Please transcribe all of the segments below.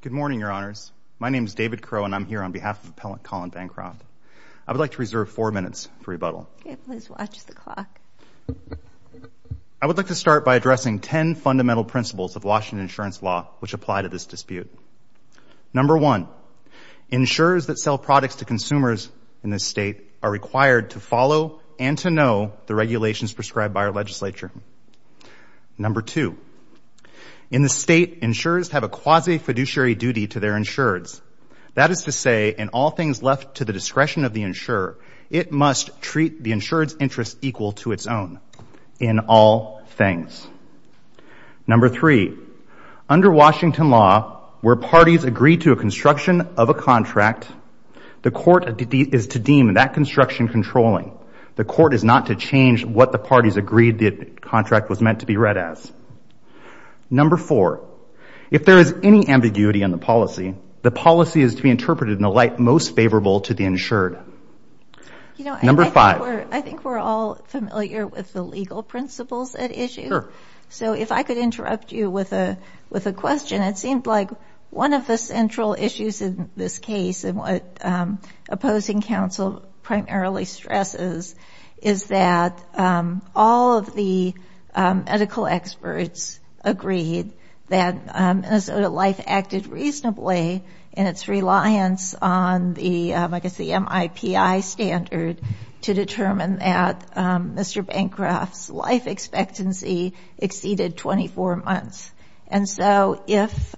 Good morning, Your Honors. My name is David Crowe, and I'm here on behalf of Appellant Colin Bancroft. I would like to reserve four minutes for rebuttal. Okay, please watch the clock. I would like to start by addressing ten fundamental principles of Washington insurance law which apply to this dispute. Number one, insurers that sell products to consumers in this state are required to follow and to know the regulations prescribed by our legislature. Number two, in this state, insurers have a quasi-fiduciary duty to their insureds. That is to say, in all things left to the discretion of the insurer, it must treat the insured's interest equal to its own in all things. Number three, under Washington law, where parties agree to a construction of a contract, the court is to deem that construction controlling. The court is not to change what the parties agreed the contract was meant to be read as. Number four, if there is any ambiguity in the policy, the policy is to be interpreted in a light most favorable to the insured. Number five. I think we're all familiar with the legal principles at issue. So if I could interrupt you with a question, it seems like one of the central issues in this case and what opposing counsel primarily stresses is that all of the medical experts agreed that Minnesota Life acted reasonably in its reliance on the, I guess the MIPI standard to determine that Mr. Bancroft's life expectancy exceeded 24 months. And so if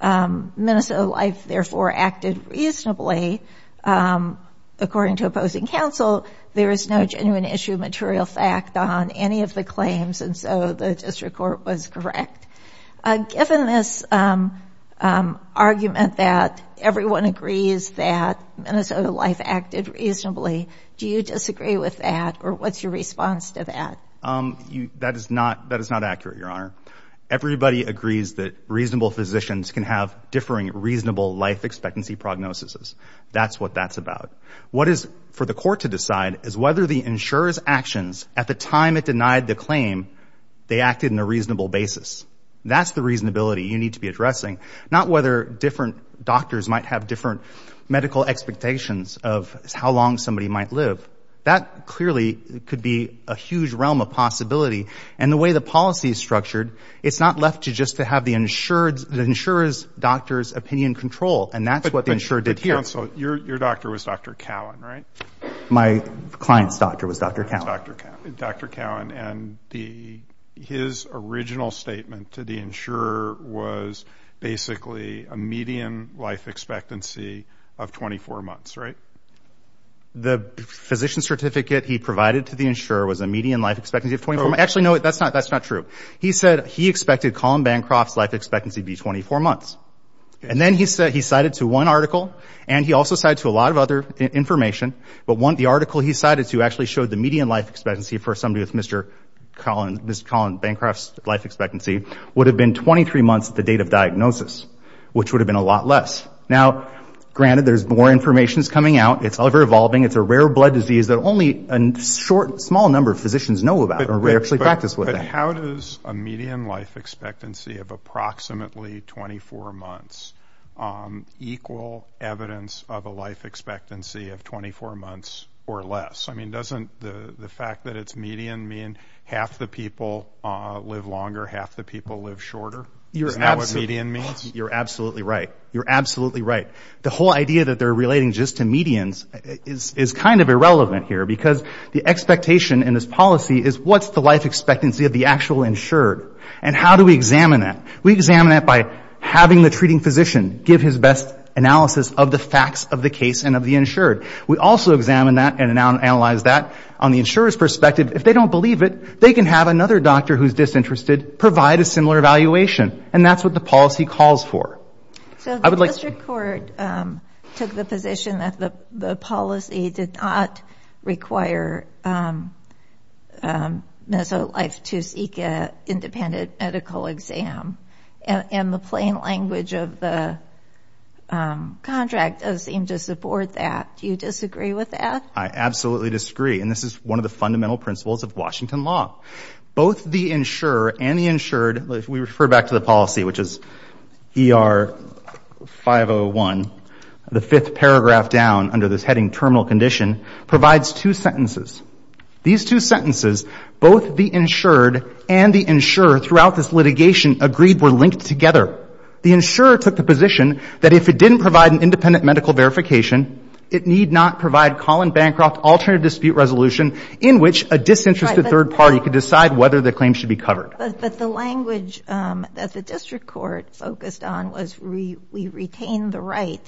Minnesota Life therefore acted reasonably, according to opposing counsel, there is no genuine issue of material fact on any of the claims and so the district court was correct. Given this argument that everyone agrees that Minnesota Life acted reasonably, do you disagree with that or what's your response to that? That is not accurate, Your Honor. Everybody agrees that reasonable physicians can have differing reasonable life expectancy prognosis. That's what that's about. What is for the court to decide is whether the insurer's actions at the time it denied the claim, they acted in a reasonable basis. That's the reasonability you need to be addressing, not whether different doctors might have different medical expectations of how long somebody might live. That clearly could be a huge realm of possibility and the way the policy is structured, it's not left to just to have the insurer's doctor's opinion control and that's what the insurer did here. But counsel, your doctor was Dr. Cowan, right? My client's doctor was Dr. Cowan. Dr. Cowan and his original statement to the insurer was basically a median life expectancy of 24 months, right? The physician certificate he provided to the insurer was a median life expectancy of 24 months. Actually, no, that's not true. He said he expected Colin Bancroft's life expectancy to be 24 months. And then he cited to one article and he also cited to a lot of other information, but the article he cited to actually showed the median life expectancy for somebody with Mr. Colin Bancroft's life expectancy would have been 23 months at the date of diagnosis, which would have been a lot less. Now, granted, there's more information that's coming out. It's over-evolving. It's a rare blood disease that only a short, small number of physicians know about or actually practice with. But how does a median life expectancy of approximately 24 months equal evidence of a life expectancy of 24 months or less? I mean, doesn't the fact that it's median mean half the people live longer, half the people live shorter? Isn't that what median means? You're absolutely right. You're absolutely right. The whole idea that they're relating just to medians is kind of irrelevant here because the expectation in this policy is what's the life expectancy of the actual insured and how do we examine that? We examine that by having the treating physician give his best analysis of the facts of the case and of the insured. We also examine that and analyze that on the insurer's perspective. If they don't believe it, they can have another doctor who's disinterested provide a similar evaluation and that's what the policy calls for. So the district court took the position that the policy did not require Minnesota Life to seek an independent medical exam and the plain language of the contract does seem to support that. Do you disagree with that? I absolutely disagree and this is one of the fundamental principles of Washington law. Both the insurer and the insured, we refer back to the policy which is ER 501, the fifth paragraph down under this heading terminal condition, provides two sentences. These two sentences, both the insured and the insurer throughout this litigation agreed were linked together. The insurer took the position that if it didn't provide an independent medical verification, it need not provide Colin Bancroft alternative dispute resolution in which a disinterested third party could decide whether the claim should be covered. But the language that the district court focused on was we retain the right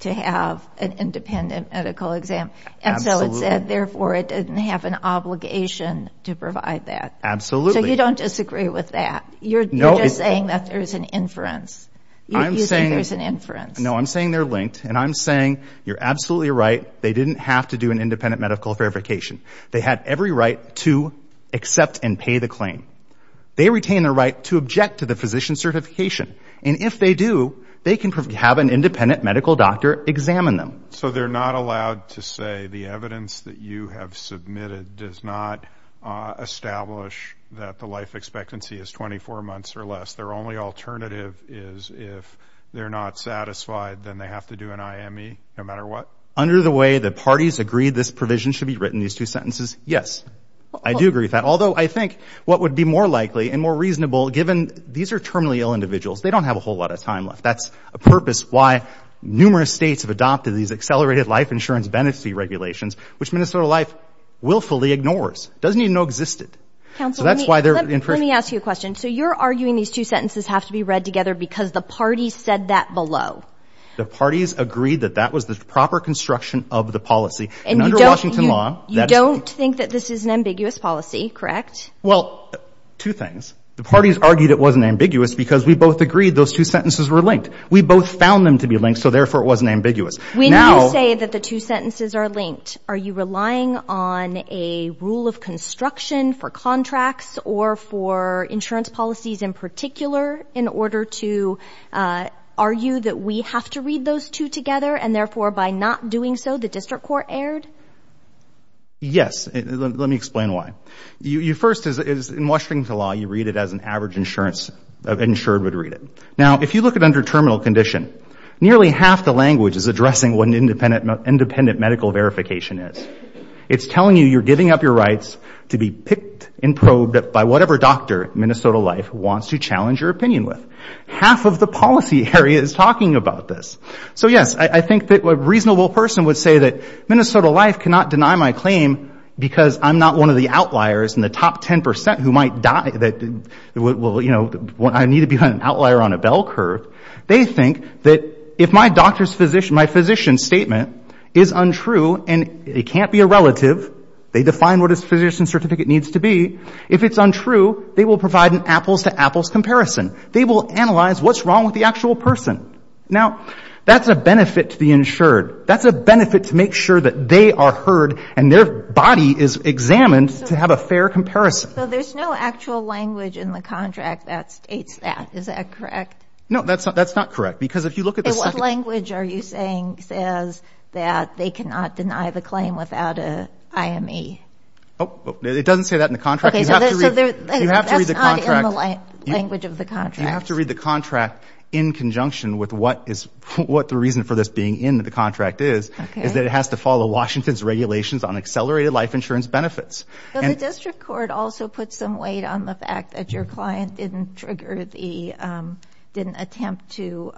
to have an independent medical exam and so it said therefore it didn't have an obligation to provide that. Absolutely. So you don't disagree with that? You're just saying that there's an inference. I'm saying there's an inference. No, I'm saying they're linked and I'm saying you're absolutely right. They didn't have to do an independent medical verification. They had every right to accept and pay the claim. They retain the right to object to the physician certification and if they do, they can have an independent medical doctor examine them. So they're not allowed to say the evidence that you have submitted does not establish that the life expectancy is 24 months or less. Their only alternative is if they're not satisfied, then they have to do an IME no matter what? Under the way the parties agreed this provision should be written, these two sentences, yes. I do agree with that. Although I think what would be more likely and more reasonable given these are terminally ill individuals. They don't have a whole lot of time left. That's a purpose why numerous states have adopted these accelerated life insurance benefit regulations, which Minnesota Life willfully ignores. Doesn't even know existed. Let me ask you a question. So you're arguing these two sentences have to be read together because the parties said that below? The parties agreed that that was the proper construction of the policy and under Washington law. You don't think that this is an ambiguous policy, correct? Well, two things. The parties argued it wasn't ambiguous because we both agreed those two sentences were linked. We both found them to be linked, so therefore it wasn't ambiguous. When you say that the two sentences are linked, are you relying on a rule of construction for contracts or for insurance policies in particular in order to argue that we have to read those two together and therefore by not doing so, the district court erred? Yes. Let me explain why. You first, in Washington law, you read it as an average insurance, an insured would read it. Now, if you look at under terminal condition, nearly half the language is addressing what an independent medical verification is. It's telling you you're giving up your rights to be picked and probed by whatever doctor Minnesota Life wants to challenge your opinion with. Half of the policy area is talking about this. So yes, I think that a reasonable person would say that Minnesota Life cannot deny my claim because I'm not one of the outliers in the top 10% who might die that, well, you know, I need to be an outlier on a bell curve. They think that if my doctor's physician, my physician statement is untrue and it can't be a relative, they define what his physician certificate needs to be. If it's untrue, they will provide an apples to apples comparison. They will analyze what's wrong with the actual person. Now, that's a benefit to the insured. That's a benefit to make sure that they are heard and their body is examined to have a fair comparison. So there's no actual language in the contract that states that. Is that correct? No, that's not. That's not correct. Because if you look at the... What language are you saying says that they cannot deny the claim without a IME? It doesn't say that in the contract. You have to read the contract. That's not in the language of the contract. You have to read the contract in conjunction with what is, what the reason for this being in the contract is, is that it has to follow Washington's regulations on accelerated life insurance benefits. Well, the district court also put some weight on the fact that your client didn't attempt to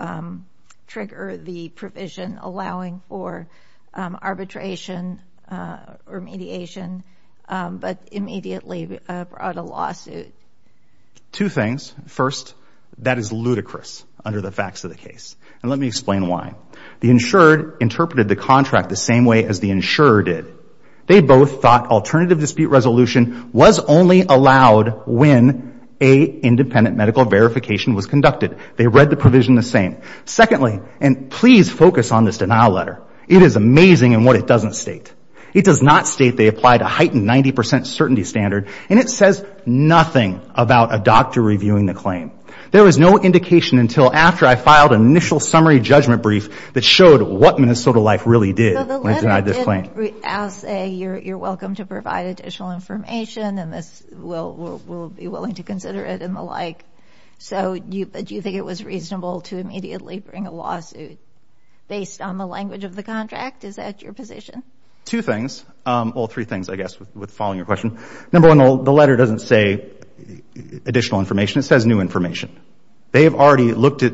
trigger the provision allowing for arbitration or mediation, but immediately brought a lawsuit. Two things. First, that is ludicrous under the facts of the case, and let me explain why. The insured interpreted the contract the same way as the insurer did. They both thought alternative dispute resolution was only allowed when a independent medical verification was conducted. They read the provision the same. Secondly, and please focus on this denial letter. It is amazing in what it doesn't state. It does not state they applied a heightened 90% certainty standard, and it says nothing about a doctor reviewing the claim. There was no indication until after I filed an initial summary judgment brief that showed what Minnesota Life really did when it denied this claim. I'll say you're welcome to provide additional information, and we'll be willing to consider it and the like. So do you think it was reasonable to immediately bring a lawsuit based on the language of the contract? Is that your position? Two things. Well, three things, I guess, with following your question. Number one, the letter doesn't say additional information. It says new information. They have already looked at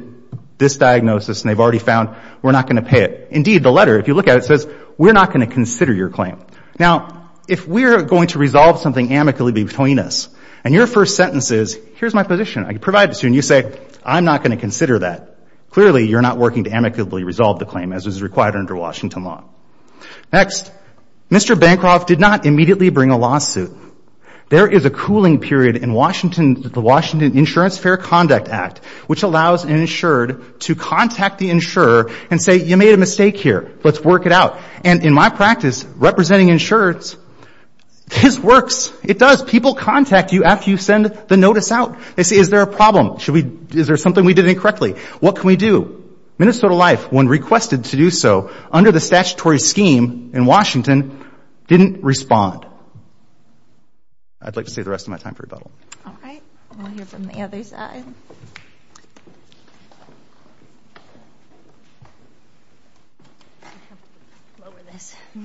this diagnosis, and they've already found we're not going to pay it. Indeed, the letter, if you look at it, says we're not going to consider your claim. Now, if we're going to resolve something amicably between us, and your first sentence is, here's my position, I can provide it to you, and you say, I'm not going to consider that, clearly you're not working to amicably resolve the claim as is required under Washington law. Next, Mr. Bancroft did not immediately bring a lawsuit. There is a cooling period in the Washington Insurance Fair Conduct Act, which allows an insurer and say, you made a mistake here. Let's work it out. And in my practice, representing insurers, this works. It does. People contact you after you send the notice out. They say, is there a problem? Is there something we did incorrectly? What can we do? Minnesota Life, when requested to do so under the statutory scheme in Washington, didn't I'd like to save the rest of my time for rebuttal. All right. We'll hear from the other side. Good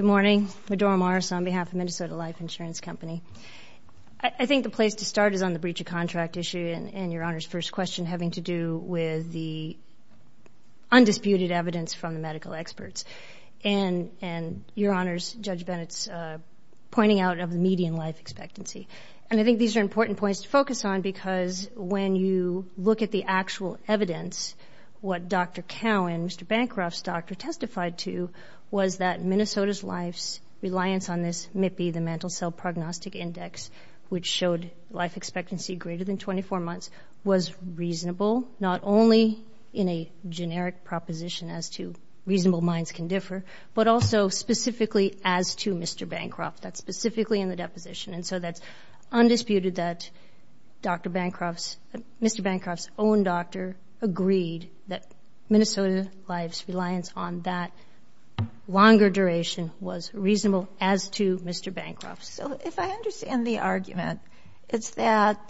morning. Medora Morris on behalf of Minnesota Life Insurance Company. I think the place to start is on the breach of contract issue and your Honor's first question having to do with the undisputed evidence from the medical experts and your Honor's Judge Bennett's pointing out of the median life expectancy. And I think these are important points to focus on because when you look at the actual evidence, what Dr. Cowan, Mr. Bancroft's doctor, testified to was that Minnesota's life's reliance on this MIPI, the Mental Cell Prognostic Index, which showed life expectancy greater than reasonable, not only in a generic proposition as to reasonable minds can differ, but also specifically as to Mr. Bancroft, that's specifically in the deposition. And so that's undisputed that Dr. Bancroft's, Mr. Bancroft's own doctor agreed that Minnesota Life's reliance on that longer duration was reasonable as to Mr. Bancroft. So if I understand the argument, it's that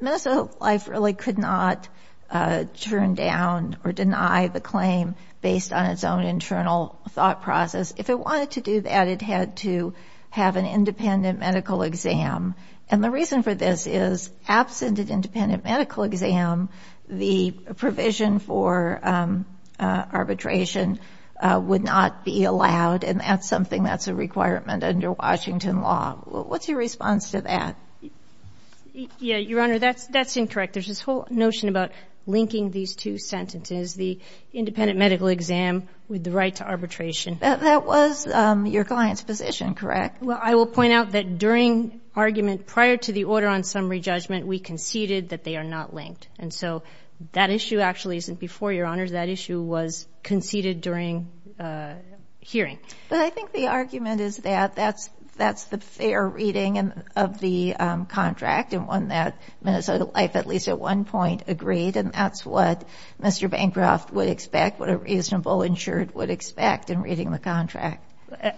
Minnesota Life really could not turn down or deny the claim based on its own internal thought process. If it wanted to do that, it had to have an independent medical exam. And the reason for this is absent an independent medical exam, the provision for arbitration would not be allowed. And that's something that's a requirement under Washington law. What's your response to that? Yeah, Your Honor, that's, that's incorrect. There's this whole notion about linking these two sentences, the independent medical exam with the right to arbitration. That was your client's position, correct? Well, I will point out that during argument prior to the order on summary judgment, we conceded that they are not linked. And so that issue actually isn't before, Your Honor. That issue was conceded during hearing. But I think the argument is that that's, that's the fair reading of the contract and one that Minnesota Life at least at one point agreed. And that's what Mr. Bancroft would expect, what a reasonable insured would expect in reading the contract.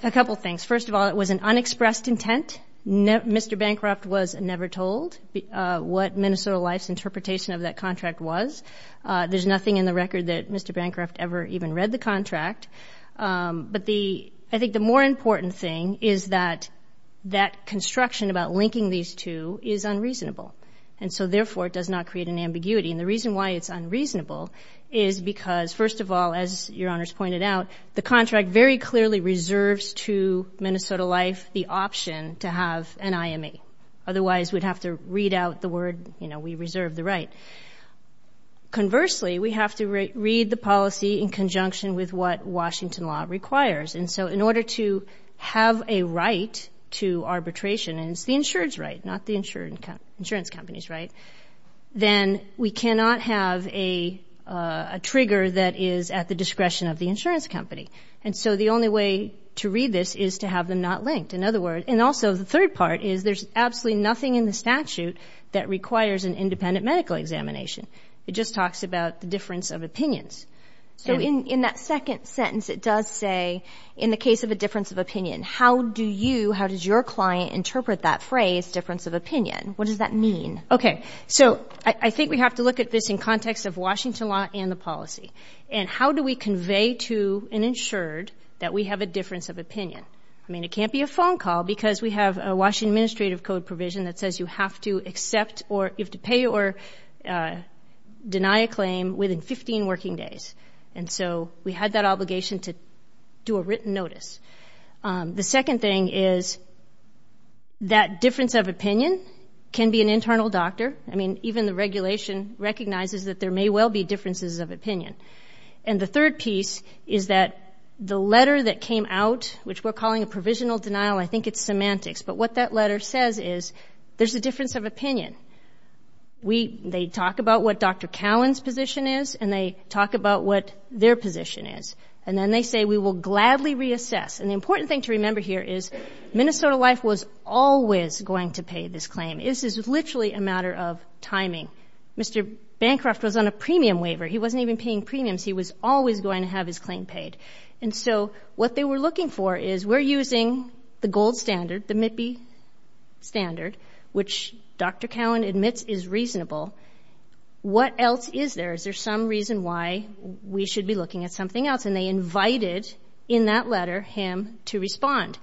A couple of things. First of all, it was an unexpressed intent. Mr. Bancroft was never told what Minnesota Life's interpretation of that contract was. There's nothing in the record that Mr. Bancroft ever even read the contract. But the, I think the more important thing is that, that construction about linking these two is unreasonable. And so therefore, it does not create an ambiguity. And the reason why it's unreasonable is because, first of all, as Your Honor's pointed out, the contract very clearly reserves to Minnesota Life the option to have an IME. Otherwise, we'd have to read out the word, you know, we reserve the right. Conversely, we have to read the policy in conjunction with what Washington law requires. And so in order to have a right to arbitration, and it's the insured's right, not the insurance company's right, then we cannot have a trigger that is at the discretion of the insurance company. And so the only way to read this is to have them not linked. In other words, and also the third part is there's absolutely nothing in the statute that requires an independent medical examination. It just talks about the difference of opinions. So in that second sentence, it does say, in the case of a difference of opinion, how do you, how does your client interpret that phrase, difference of opinion? What does that mean? Okay. So I think we have to look at this in context of Washington law and the policy. And how do we convey to an insured that we have a difference of opinion? I mean, it can't be a phone call because we have a Washington administrative code provision that says you have to accept or you have to pay or deny a claim within 15 working days. And so we had that obligation to do a written notice. The second thing is that difference of opinion can be an internal doctor. I mean, even the regulation recognizes that there may well be differences of opinion. And the third piece is that the letter that came out, which we're calling a provisional denial, I think it's semantics, but what that letter says is there's a difference of opinion. They talk about what Dr. Cowan's position is and they talk about what their position is. And then they say, we will gladly reassess. And the important thing to remember here is Minnesota Life was always going to pay this claim. This is literally a matter of timing. Mr. Bancroft was on a premium waiver. He wasn't even paying premiums. He was always going to have his claim paid. And so what they were looking for is we're using the gold standard, the MIPI standard, which Dr. Cowan admits is reasonable. What else is there? Is there some reason why we should be looking at something else? And they invited, in that letter, him to respond.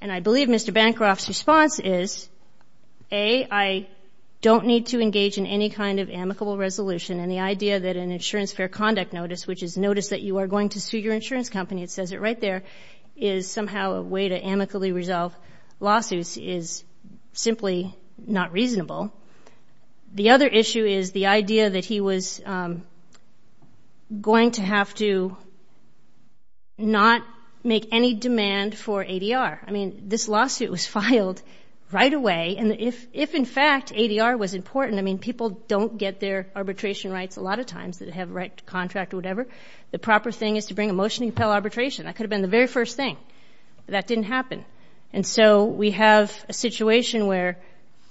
And I believe Mr. Bancroft's response is, A, I don't need to engage in any kind of amicable resolution. And the idea that an insurance fair conduct notice, which is notice that you are going to sue your insurance company, it says it right there, is somehow a way to amicably resolve lawsuits is simply not reasonable. The other issue is the idea that he was going to have to not make any demand for ADR. I mean, this lawsuit was filed right away. And if, in fact, ADR was important, I mean, people don't get their arbitration rights a lot of times that have a right to contract or whatever. The proper thing is to bring a motion to compel arbitration. That could have been the very first thing. That didn't happen. And so we have a situation where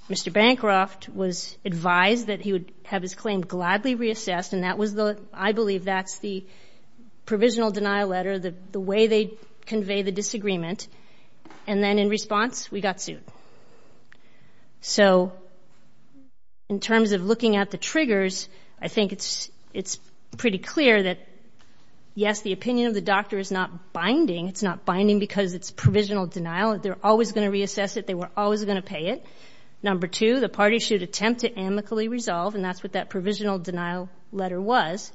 Mr. Bancroft was advised that he would have his claim gladly reassessed, and that was the, I believe that's the provisional denial letter, the way they convey the disagreement. And then in response, we got sued. So in terms of looking at the triggers, I think it's pretty clear that, yes, the opinion of the doctor is not binding. It's not binding because it's provisional denial. They're always going to reassess it. They were always going to pay it. Number two, the parties should attempt to amicably resolve, and that's what that provisional denial letter was.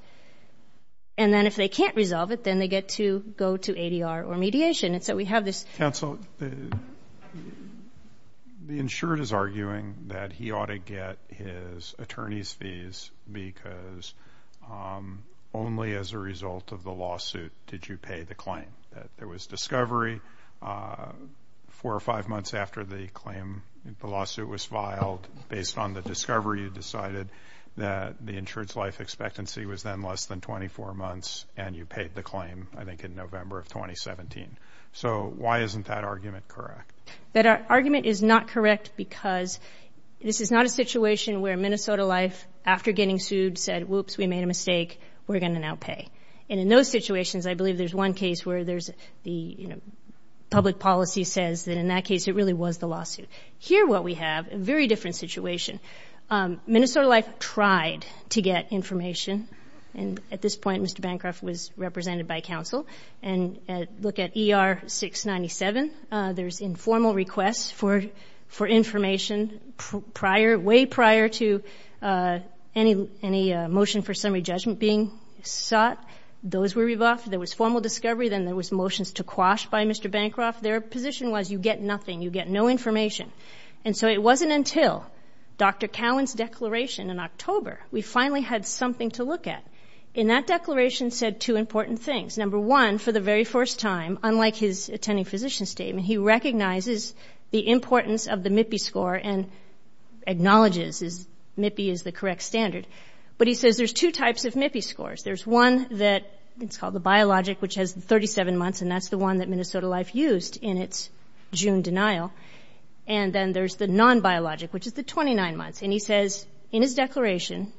And then if they can't resolve it, then they get to go to ADR or mediation. Counsel, the insured is arguing that he ought to get his attorney's fees because only as a result of the lawsuit did you pay the claim, that there was discovery four or five months after the claim, the lawsuit was filed, based on the discovery, you decided that the insured's life expectancy was then less than 24 months, and you paid the claim, I think, in November of 2017. So why isn't that argument correct? That argument is not correct because this is not a situation where Minnesota Life, after getting sued, said, whoops, we made a mistake. We're going to now pay. And in those situations, I believe there's one case where there's the public policy says that in that case, it really was the lawsuit. Here what we have, a very different situation. Minnesota Life tried to get information, and at this point, Mr. Bancroft was represented by counsel, and look at ER 697. There's informal requests for information prior, way prior to any motion for summary judgment being sought. Those were revoked. There was formal discovery. Then there was motions to quash by Mr. Bancroft. Their position was you get nothing. You get no information. And so it wasn't until Dr. Cowan's declaration in October, we finally had something to look at. In that declaration said two important things. Number one, for the very first time, unlike his attending physician statement, he recognizes the importance of the MIPI score and acknowledges MIPI is the correct standard. But he says there's two types of MIPI scores. There's one that's called the biologic, which has 37 months, and that's the one that Minnesota Life used in its June denial. And then there's the non-biologic, which is the 29 months, and he says in his declaration,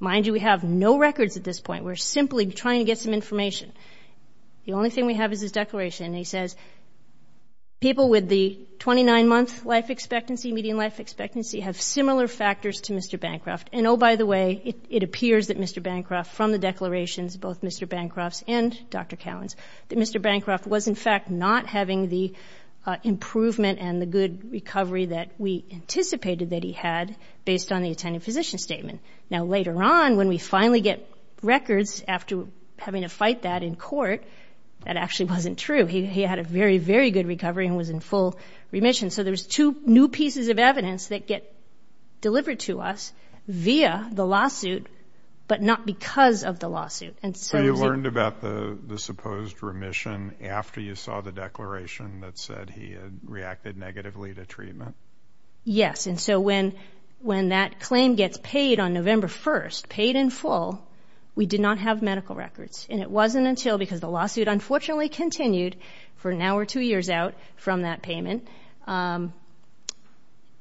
mind you, we have no records at this point. We're simply trying to get some information. The only thing we have is his declaration, and he says people with the 29-month life expectancy, median life expectancy, have similar factors to Mr. Bancroft. And oh, by the way, it appears that Mr. Bancroft, from the declarations, both Mr. Bancroft's and Dr. Cowan's, that Mr. Bancroft was, in fact, not having the improvement and the good condition statement. Now, later on, when we finally get records after having to fight that in court, that actually wasn't true. He had a very, very good recovery and was in full remission. So there's two new pieces of evidence that get delivered to us via the lawsuit, but not because of the lawsuit. And so... So you learned about the supposed remission after you saw the declaration that said he had reacted negatively to treatment? Yes. And so when that claim gets paid on November 1st, paid in full, we did not have medical records. And it wasn't until, because the lawsuit unfortunately continued for an hour or two years out from that payment,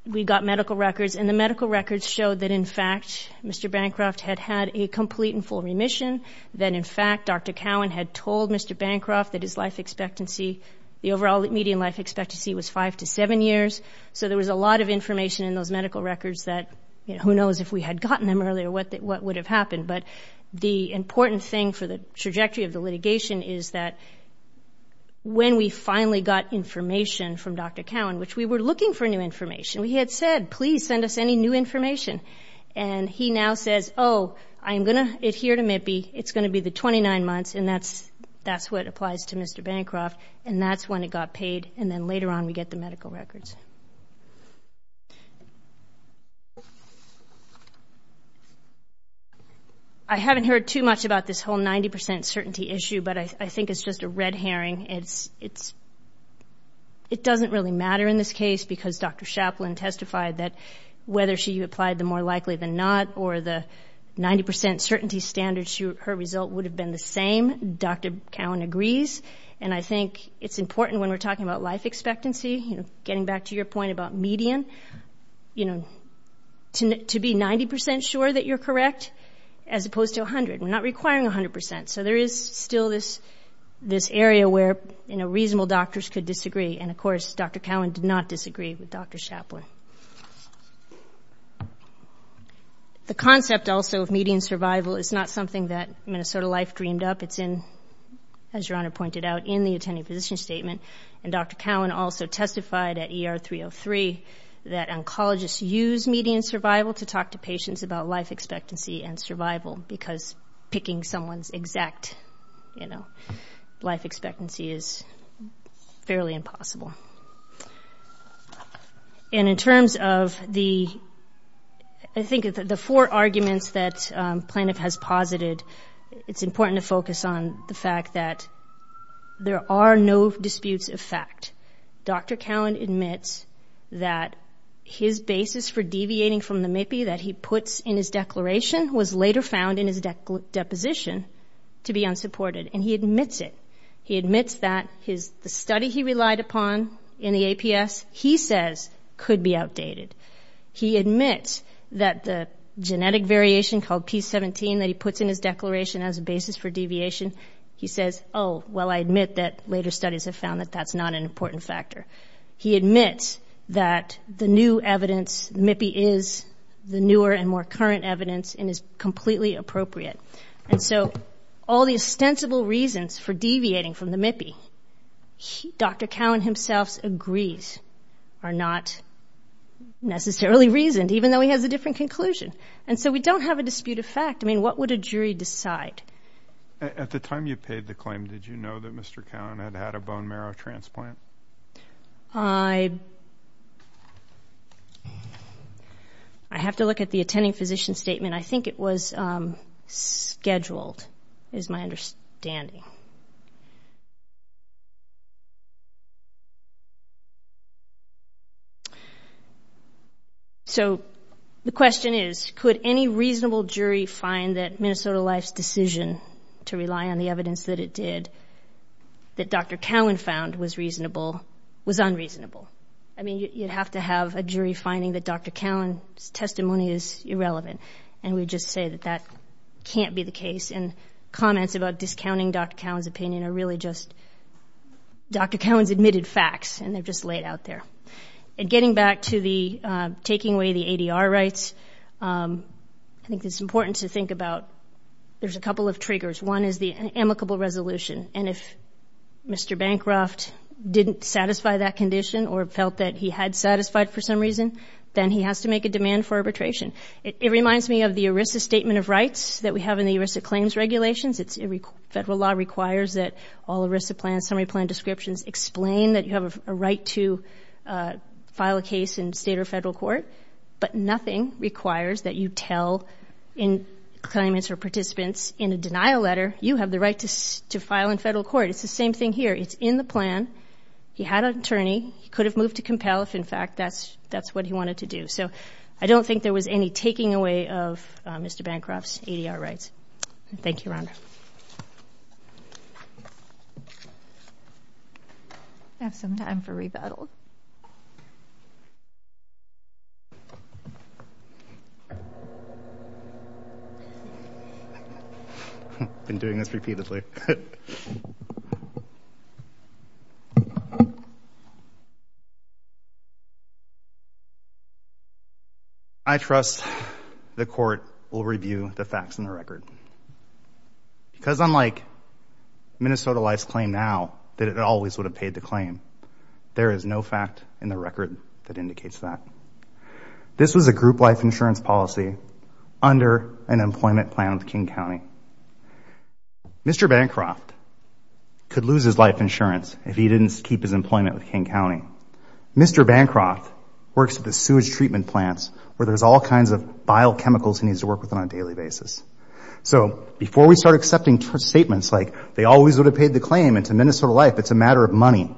we got medical records. And the medical records showed that, in fact, Mr. Bancroft had had a complete and full remission, that, in fact, Dr. Cowan had told Mr. Bancroft that his life expectancy, the overall median life expectancy was five to seven years. So there was a lot of information in those medical records that, you know, who knows if we had gotten them earlier, what would have happened. But the important thing for the trajectory of the litigation is that when we finally got information from Dr. Cowan, which we were looking for new information, we had said, please send us any new information. And he now says, oh, I'm going to adhere to MIPI. It's going to be the 29 months. And that's what applies to Mr. Bancroft. And that's when it got paid. And then later on, we get the medical records. I haven't heard too much about this whole 90 percent certainty issue, but I think it's just a red herring. It doesn't really matter in this case because Dr. Chaplin testified that whether she applied the more likely than not or the 90 percent certainty standard, her result would have been the same. Dr. Cowan agrees. And I think it's important when we're talking about life expectancy, you know, getting back to your point about median, you know, to be 90 percent sure that you're correct as opposed to 100. We're not requiring 100 percent. So there is still this area where, you know, reasonable doctors could disagree. And of course, Dr. Cowan did not disagree with Dr. Chaplin. The concept also of median survival is not something that Minnesota Life dreamed up. It's in, as Your Honor pointed out, in the attending physician statement. And Dr. Cowan also testified at ER 303 that oncologists use median survival to talk to patients about life expectancy and survival because picking someone's exact, you know, life expectancy is fairly impossible. And in terms of the, I think the four arguments that Planoff has posited, it's important to focus on the fact that there are no disputes of fact. Dr. Cowan admits that his basis for deviating from the MIPI that he puts in his declaration was later found in his deposition to be unsupported. And he admits it. He admits that the study he relied upon in the APS, he says, could be outdated. He admits that the genetic variation called P17 that he puts in his declaration as a basis for deviation, he says, oh, well, I admit that later studies have found that that's not an important factor. He admits that the new evidence, MIPI is the newer and more current evidence and is completely appropriate. And so all the ostensible reasons for deviating from the MIPI, Dr. Cowan himself agrees are not necessarily reasoned, even though he has a different conclusion. And so we don't have a dispute of fact. I mean, what would a jury decide? At the time you paid the claim, did you know that Mr. Cowan had had a bone marrow transplant? I have to look at the attending physician statement. I think it was scheduled is my understanding. So, the question is, could any reasonable jury find that Minnesota Life's decision to rely on the evidence that it did, that Dr. Cowan found was reasonable, was unreasonable? I mean, you'd have to have a jury finding that Dr. Cowan's testimony is irrelevant. And we just say that that can't be the case. And comments about discounting Dr. Cowan's opinion are really just Dr. Cowan's admitted facts and they're just laid out there. And getting back to the taking away the ADR rights, I think it's important to think about there's a couple of triggers. One is the amicable resolution. And if Mr. Bancroft didn't satisfy that condition or felt that he had satisfied for some reason, then he has to make a demand for arbitration. It reminds me of the ERISA statement of rights that we have in the ERISA claims regulations. Federal law requires that all ERISA plans, summary plan descriptions, explain that you have a right to file a case in state or federal court. But nothing requires that you tell claimants or participants in a denial letter, you have the right to file in federal court. It's the same thing here. It's in the plan. He had an attorney. He could have moved to compel if, in fact, that's what he wanted to do. So I don't think there was any taking away of Mr. Bancroft's ADR rights. Thank you, Rhonda. We have some time for rebuttal. Been doing this repeatedly. I trust the court will review the facts in the record. Because unlike Minnesota Life's claim now, that it always would have paid the claim, there is no fact in the record that indicates that. This was a group life insurance policy under an employment plan with King County. Mr. Bancroft could lose his life insurance if he didn't keep his employment with King County. Mr. Bancroft works at the sewage treatment plants where there's all kinds of biochemicals he needs to work with on a daily basis. So before we start accepting statements like, they always would have paid the claim, and to Minnesota Life, it's a matter of money.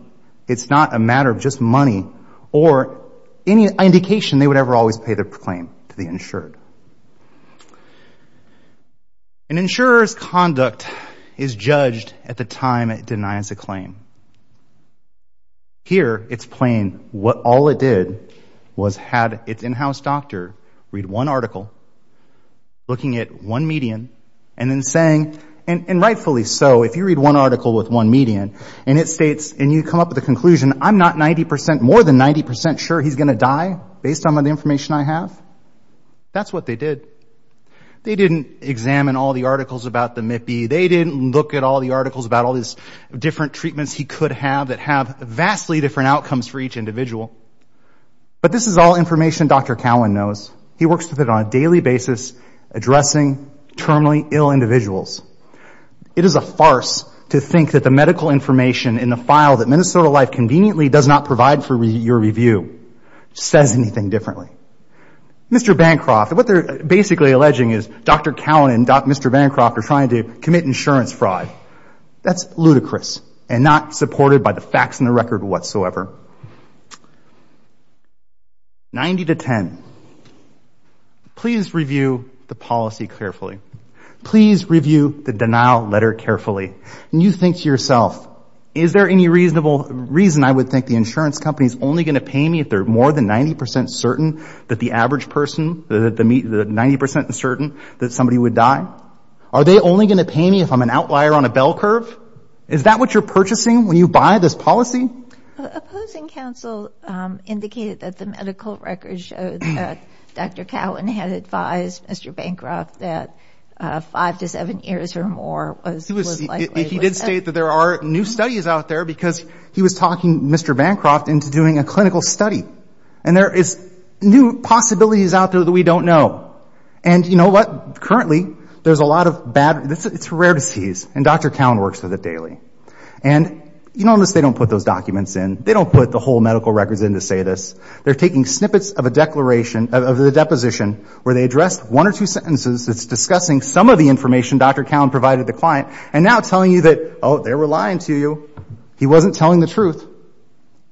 It's not a matter of just money or any indication they would ever always pay the claim to the insured. An insurer's conduct is judged at the time it denies a claim. Here, it's plain, what all it did was had its in-house doctor read one article, looking at one median, and then saying, and rightfully so, if you read one article with one median, and it states, and you come up with a conclusion, I'm not 90%, more than 90% sure he's going to die based on the information I have, that's what they did. They didn't examine all the articles about the MIPI. They didn't look at all the articles about all these different treatments he could have that have vastly different outcomes for each individual. But this is all information Dr. Cowan knows. He works with it on a daily basis, addressing terminally ill individuals. It is a farce to think that the medical information in the file that Minnesota Life conveniently does not provide for your review says anything differently. Mr. Bancroft, what they're basically alleging is Dr. Cowan and Mr. Bancroft are trying to commit insurance fraud. That's ludicrous, and not supported by the facts in the record whatsoever. Ninety to ten. Please review the policy carefully. Please review the denial letter carefully. You think to yourself, is there any reason I would think the insurance company is only going to pay me if they're more than 90% certain that the average person, the 90% certain that somebody would die? Are they only going to pay me if I'm an outlier on a bell curve? Is that what you're purchasing when you buy this policy? Opposing counsel indicated that the medical record showed that Dr. Cowan had advised Mr. Bancroft that five to seven years or more was likely. He did state that there are new studies out there because he was talking Mr. Bancroft into doing a clinical study. And there is new possibilities out there that we don't know. And you know what? Currently, there's a lot of bad, it's rare disease, and Dr. Cowan works with it daily. And you notice they don't put those documents in. They don't put the whole medical records in to say this. They're taking snippets of a declaration, of the deposition, where they address one or two sentences that's discussing some of the information Dr. Cowan provided the client, and now telling you that, oh, they were lying to you. He wasn't telling the truth,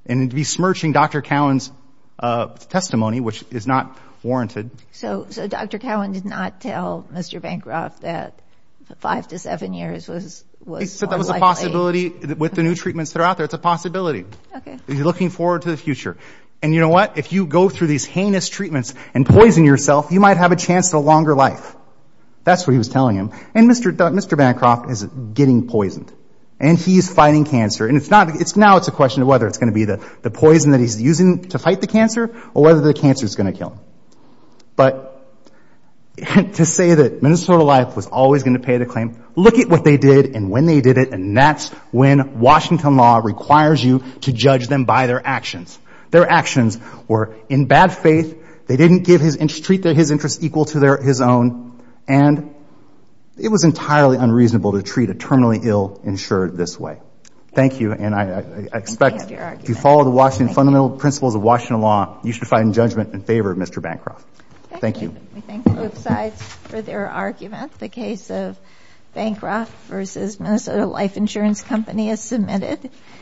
and he'd be smirching Dr. Cowan's testimony, which is not warranted. So Dr. Cowan did not tell Mr. Bancroft that five to seven years was likely. He said that was a possibility with the new treatments that are out there. It's a possibility. Okay. He's looking forward to the future. And you know what? If you go through these heinous treatments and poison yourself, you might have a chance to a longer life. That's what he was telling him. And Mr. Bancroft is getting poisoned, and he's fighting cancer. And now it's a question of whether it's going to be the poison that he's using to fight the cancer, or whether the cancer's going to kill him. But to say that Minnesota Life was always going to pay the claim, look at what they did and when they did it, and that's when Washington law requires you to judge them by their actions. Their actions were in bad faith. They didn't treat his interests equal to his own, and it was entirely unreasonable to treat a terminally ill insured this way. Thank you, and I expect if you follow the Washington Fundamental Principles of Washington law, you should find judgment in favor of Mr. Bancroft. Thank you. Thank you. We thank both sides for their argument. The case of Bancroft versus Minnesota Life Insurance Company is submitted.